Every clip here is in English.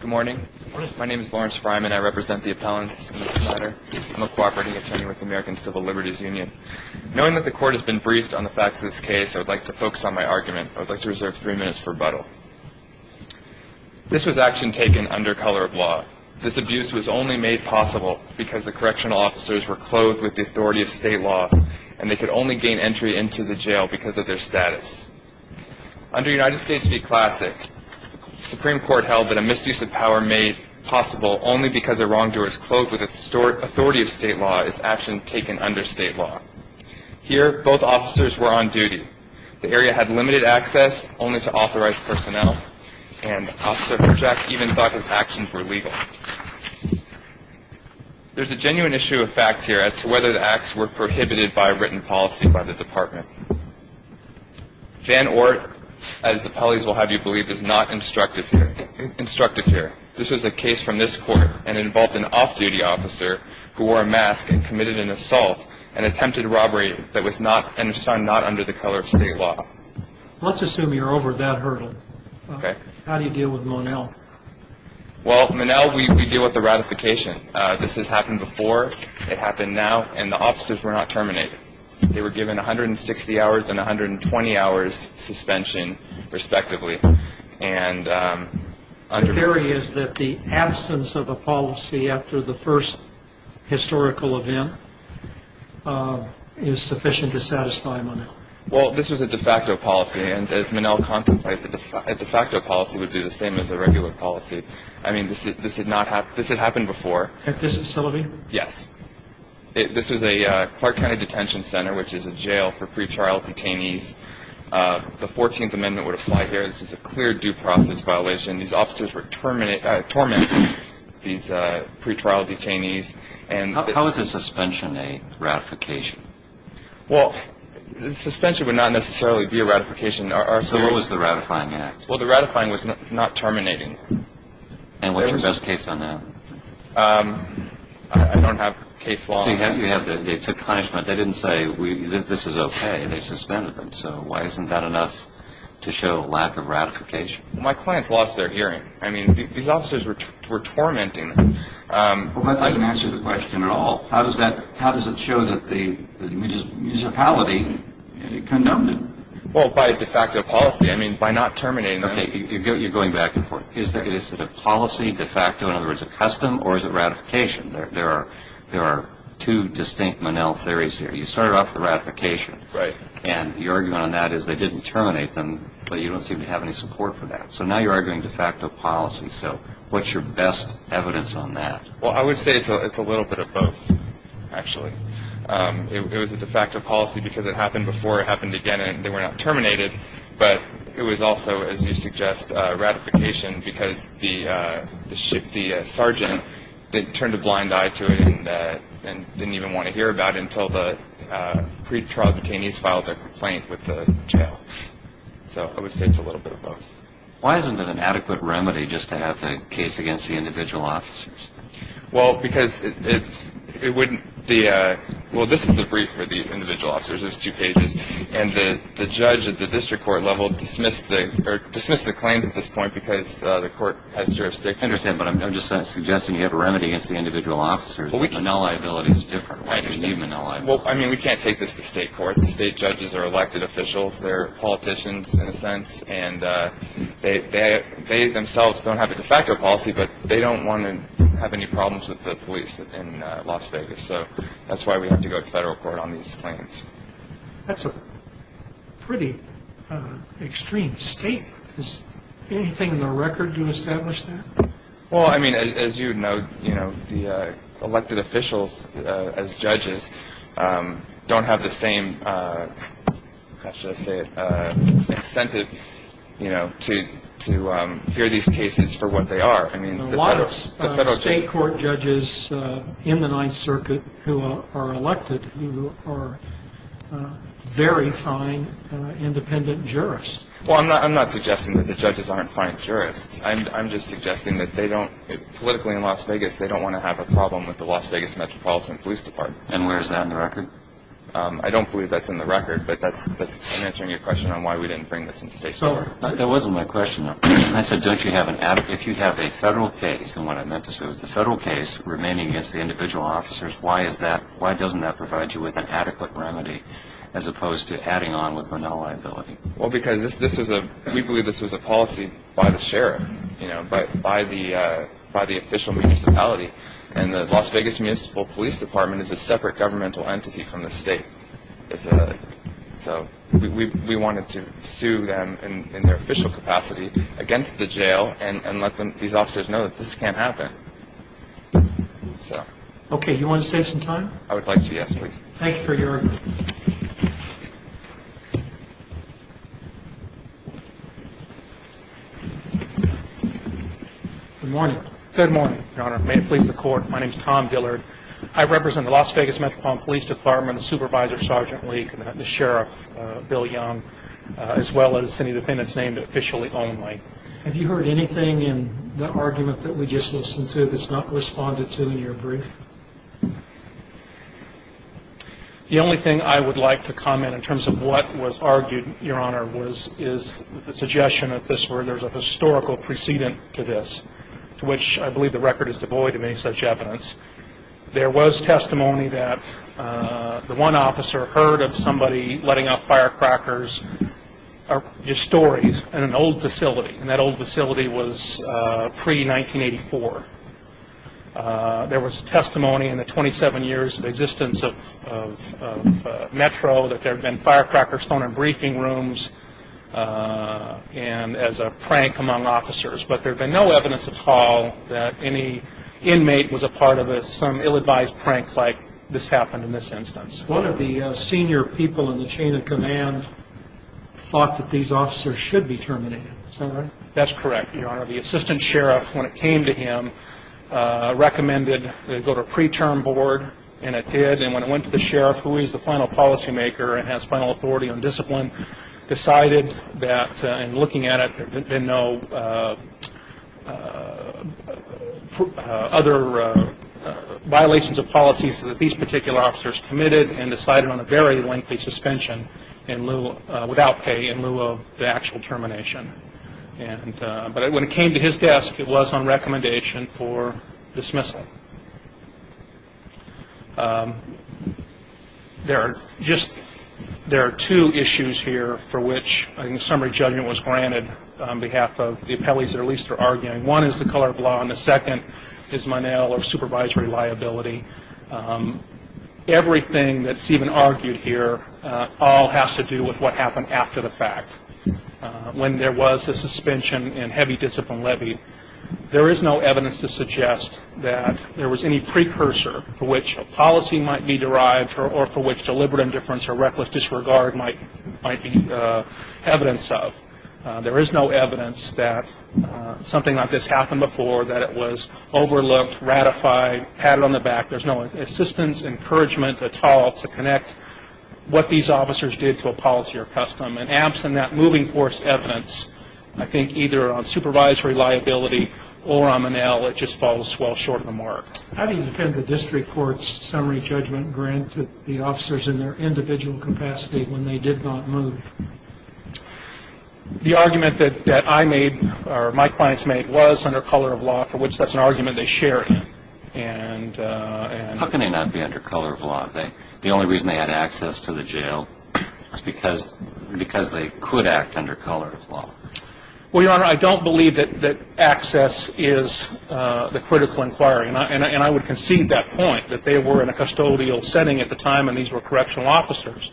Good morning. My name is Lawrence Fryman. I represent the appellants in this matter. I'm a cooperating attorney with the American Civil Liberties Union. Knowing that the court has been briefed on the facts of this case, I would like to focus on my argument. I would like to reserve three minutes for rebuttal. This was action taken under color of law. This abuse was only made possible because the correctional officers were clothed with the authority of state law and they could only gain entry into the jail because of their status. Under United States v. Classic, the Supreme Court held that a misuse of power made possible only because a wrongdoer is clothed with the authority of state law is action taken under state law. Here, both officers were on duty. The area had limited access only to authorized personnel. And Officer Herjack even thought his actions were legal. There's a genuine issue of fact here as to whether the acts were prohibited by written policy by the department. Van Oort, as the appellees will have you believe, is not instructive here. This was a case from this court and involved an off-duty officer who wore a mask and committed an assault and attempted robbery that was not under the color of state law. Let's assume you're over that hurdle. Okay. How do you deal with Monell? Well, Monell, we deal with the ratification. This has happened before, it happened now, and the officers were not terminated. They were given 160 hours and 120 hours suspension, respectively. The theory is that the absence of a policy after the first historical event is sufficient to satisfy Monell. Well, this was a de facto policy, and as Monell contemplates, a de facto policy would be the same as a regular policy. I mean, this had happened before. At this facility? Yes. This was a Clark County Detention Center, which is a jail for pretrial detainees. The 14th Amendment would apply here. This is a clear due process violation. These officers were tormenting these pretrial detainees. How is a suspension a ratification? Well, a suspension would not necessarily be a ratification. So what was the ratifying act? Well, the ratifying was not terminating. And what's your best case on that? I don't have case law. So they took punishment. They didn't say this is okay. They suspended them. So why isn't that enough to show lack of ratification? Well, my clients lost their hearing. I mean, these officers were tormenting them. Well, that doesn't answer the question at all. How does it show that the municipality condoned it? Well, by a de facto policy. I mean, by not terminating them. Okay, you're going back and forth. Is it a policy de facto? In other words, a custom? Or is it ratification? There are two distinct Monell theories here. You started off with ratification. Right. And your argument on that is they didn't terminate them, but you don't seem to have any support for that. So now you're arguing de facto policy. So what's your best evidence on that? Well, I would say it's a little bit of both, actually. It was a de facto policy because it happened before, it happened again, and they were not terminated. But it was also, as you suggest, ratification because the sergeant turned a blind eye to it and didn't even want to hear about it until the pretrial detainees filed their complaint with the jail. So I would say it's a little bit of both. Why isn't it an adequate remedy just to have a case against the individual officers? Well, because it wouldn't be a – well, this is a brief for the individual officers. There's two pages. And the judge at the district court level dismissed the claims at this point because the court has jurisdiction. I understand, but I'm just suggesting you have a remedy against the individual officers. Manila liability is different. I understand. Why do you need Manila liability? Well, I mean, we can't take this to state court. The state judges are elected officials. They're politicians in a sense. And they themselves don't have a de facto policy, but they don't want to have any problems with the police in Las Vegas. So that's why we have to go to federal court on these claims. That's a pretty extreme state. Is there anything in the record to establish that? Well, I mean, as you note, you know, the elected officials as judges don't have the same, how should I say it, incentive, you know, to hear these cases for what they are. There are a lot of state court judges in the Ninth Circuit who are elected who are very fine independent jurists. Well, I'm not suggesting that the judges aren't fine jurists. I'm just suggesting that they don't, politically in Las Vegas, they don't want to have a problem with the Las Vegas Metropolitan Police Department. And where is that in the record? I don't believe that's in the record, but I'm answering your question on why we didn't bring this in state court. That wasn't my question. I said don't you have an adequate, if you have a federal case, and what I meant to say was the federal case remaining against the individual officers, why is that, why doesn't that provide you with an adequate remedy as opposed to adding on with no liability? Well, because this was a, we believe this was a policy by the sheriff, you know, by the official municipality. And the Las Vegas Municipal Police Department is a separate governmental entity from the state. So we wanted to sue them in their official capacity against the jail and let these officers know that this can't happen. So. Okay, you want to save some time? I would like to, yes, please. Thank you for your. Good morning. Good morning, Your Honor. May it please the court. My name is Tom Dillard. I represent the Las Vegas Metropolitan Police Department, Supervisor Sergeant Leak, the Sheriff Bill Young, as well as any defendants named officially only. Have you heard anything in the argument that we just listened to that's not responded to in your brief? The only thing I would like to comment in terms of what was argued, Your Honor, is the suggestion that there's a historical precedent to this, to which I believe the record is devoid of any such evidence. There was testimony that the one officer heard of somebody letting off firecrackers, just stories, in an old facility. And that old facility was pre-1984. There was testimony in the 27 years of existence of Metro that there had been firecrackers thrown in briefing rooms as a prank among officers. But there had been no evidence at all that any inmate was a part of some ill-advised prank like this happened in this instance. One of the senior people in the chain of command thought that these officers should be terminated. Is that right? That's correct, Your Honor. The assistant sheriff, when it came to him, recommended they go to a pre-term board, and it did. And when it went to the sheriff, who is the final policymaker and has final authority on discipline, decided that, in looking at it, there had been no other violations of policies that these particular officers committed and decided on a very lengthy suspension without pay in lieu of the actual termination. But when it came to his desk, it was on recommendation for dismissal. There are two issues here for which a summary judgment was granted on behalf of the appellees that are least for arguing. One is the color of law, and the second is Monell or supervisory liability. Everything that's even argued here all has to do with what happened after the fact. When there was a suspension and heavy discipline levied, there is no evidence to suggest that there was any precursor for which a policy might be derived or for which deliberate indifference or reckless disregard might be evidence of. There is no evidence that something like this happened before, that it was overlooked, ratified, patted on the back. There's no assistance, encouragement at all to connect what these officers did to a policy or custom. And absent that moving force evidence, I think either on supervisory liability or on Monell, it just falls well short of the mark. How do you defend the district court's summary judgment grant to the officers in their individual capacity when they did not move? The argument that I made or my clients made was under color of law, for which that's an argument they share. How can they not be under color of law? The only reason they had access to the jail is because they could act under color of law. Well, Your Honor, I don't believe that access is the critical inquiry. And I would concede that point, that they were in a custodial setting at the time and these were correctional officers.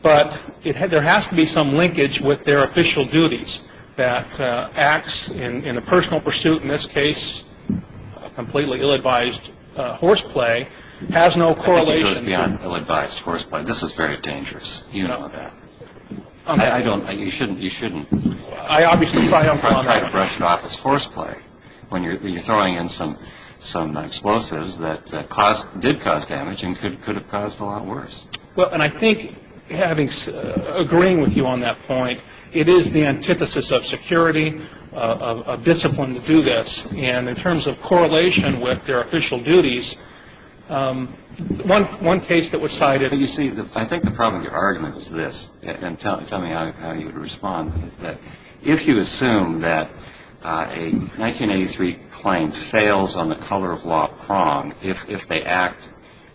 But there has to be some linkage with their official duties that acts in a personal pursuit, in this case, a completely ill-advised horseplay has no correlation. I think it goes beyond ill-advised horseplay. This was very dangerous. You know that. You shouldn't try to brush it off as horseplay when you're throwing in some explosives that did cause damage and could have caused a lot worse. Well, and I think agreeing with you on that point, it is the antithesis of security, of discipline to do this. And in terms of correlation with their official duties, one case that was cited. You see, I think the problem with your argument is this, and tell me how you would respond, is that if you assume that a 1983 claim fails on the color of law prong, if they act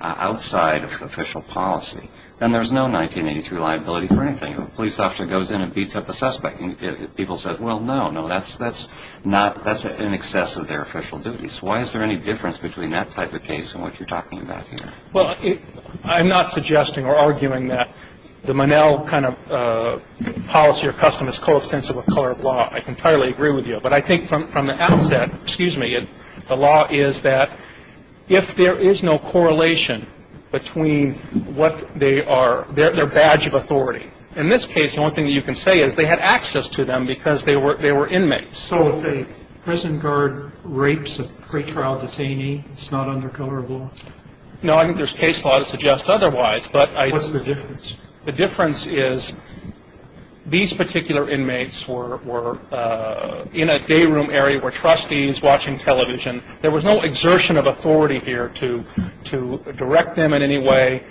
outside of official policy, then there's no 1983 liability for anything. If a police officer goes in and beats up a suspect and people say, well, no, no, that's in excess of their official duties. Why is there any difference between that type of case and what you're talking about here? Well, I'm not suggesting or arguing that the Monell kind of policy or custom is coextensive with color of law. I can entirely agree with you. But I think from the outset, excuse me, the law is that if there is no correlation between what they are, their badge of authority, in this case, the only thing that you can say is they had access to them because they were inmates. So if a prison guard rapes a pretrial detainee, it's not under color of law? No, I think there's case law to suggest otherwise. What's the difference? The difference is these particular inmates were in a day room area where trustees watching television, there was no exertion of authority here to direct them in any way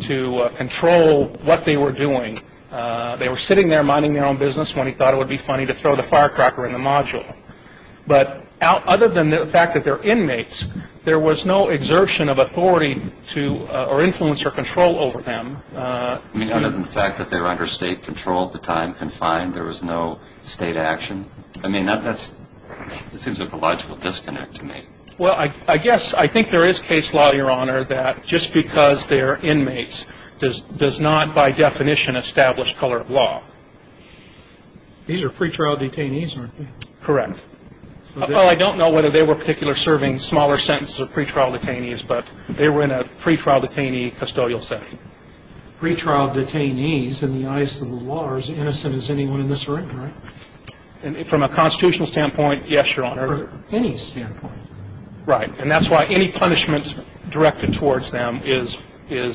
to control what they were doing. They were sitting there minding their own business when he thought it would be funny to throw the firecracker in the module. But other than the fact that they're inmates, there was no exertion of authority to influence or control over them. I mean, other than the fact that they were under state control at the time, confined, there was no state action? I mean, that seems like a logical disconnect to me. Well, I guess I think there is case law, Your Honor, that just because they are inmates does not by definition establish color of law. These are pretrial detainees, aren't they? Correct. Well, I don't know whether they were particularly serving smaller sentences of pretrial detainees, but they were in a pretrial detainee custodial setting. Now, I'm back to the question I started you with. are the ones that are in charge of the pre-trial detainees in the eyes of the law, are as innocent as anyone in this room, right? From a constitutional standpoint, yes, Your Honor. From any standpoint. Right. And that's why any punishment directed towards them is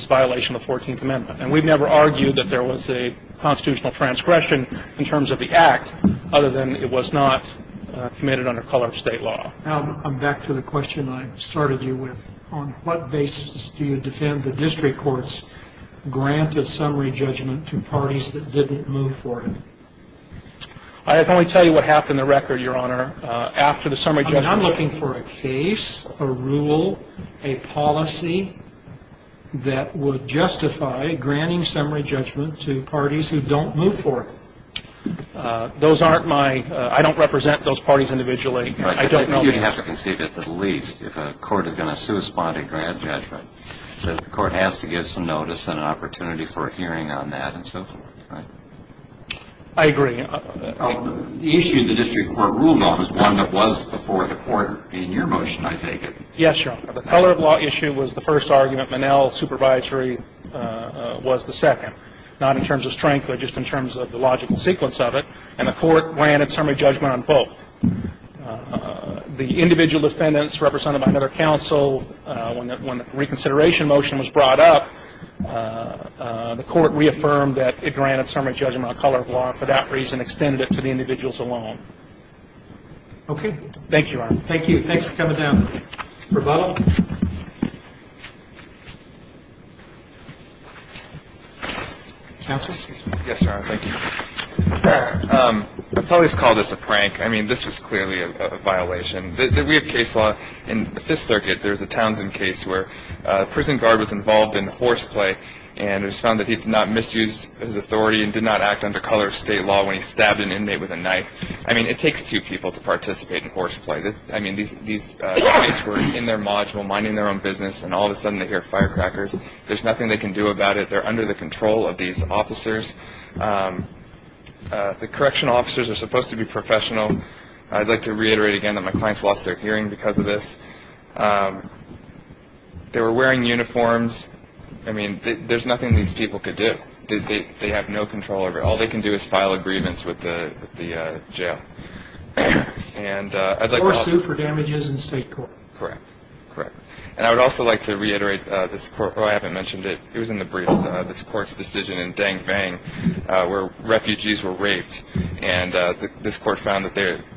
violation of the 14th Amendment. And we've never argued that there was a constitutional transgression in terms of the act, other than it was not committed under color of state law. Now, I'm back to the question I started you with. On what basis do you defend the district courts granted summary judgment to parties that didn't move for it? I can only tell you what happened in the record, Your Honor. I'm looking for a case, a rule, a policy that would justify granting summary judgment to parties who don't move for it. Those aren't my ‑‑ I don't represent those parties individually. I don't know the answer. You'd have to concede at the least if a court is going to sue a spotty grant judgment. The court has to give some notice and an opportunity for a hearing on that and so forth, right? I agree. The issue of the district court rule, though, is one that was before the court in your motion, I take it. Yes, Your Honor. The color of law issue was the first argument. Monell's supervisory was the second, not in terms of strength, but just in terms of the logical sequence of it. And the court granted summary judgment on both. The individual defendants represented by another counsel, when the reconsideration motion was brought up, the court reaffirmed that it granted summary judgment on color of law and for that reason extended it to the individuals alone. Thank you, Your Honor. Thank you. Thanks for coming down. Rebuttal? Counsel? Yes, Your Honor. Thank you. I've always called this a prank. I mean, this was clearly a violation. We have case law in the Fifth Circuit. There was a Townsend case where a prison guard was involved in horseplay and it was found that he did not misuse his authority and did not act under color of state law when he stabbed an inmate with a knife. I mean, it takes two people to participate in horseplay. I mean, these inmates were in their module minding their own business, and all of a sudden they hear firecrackers. There's nothing they can do about it. They're under the control of these officers. The correctional officers are supposed to be professional. I'd like to reiterate again that my clients lost their hearing because of this. They were wearing uniforms. I mean, there's nothing these people could do. They have no control over it. All they can do is file a grievance with the jail. Or sue for damages in state court. Correct. Correct. And I would also like to reiterate this court, oh, I haven't mentioned it. It was in the briefs, this court's decision in Dang Bang where refugees were raped, and this court found that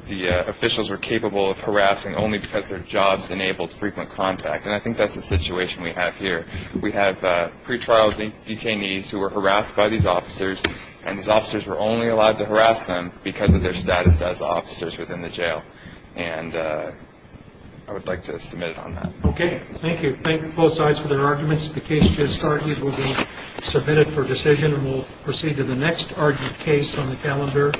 the officials were capable of harassing only because their jobs enabled frequent contact. And I think that's the situation we have here. We have pretrial detainees who were harassed by these officers, and these officers were only allowed to harass them because of their status as officers within the jail. And I would like to submit it on that. Okay. Thank you. Thank you to both sides for their arguments. The case just argued will be submitted for decision, and we'll proceed to the next case on the calendar.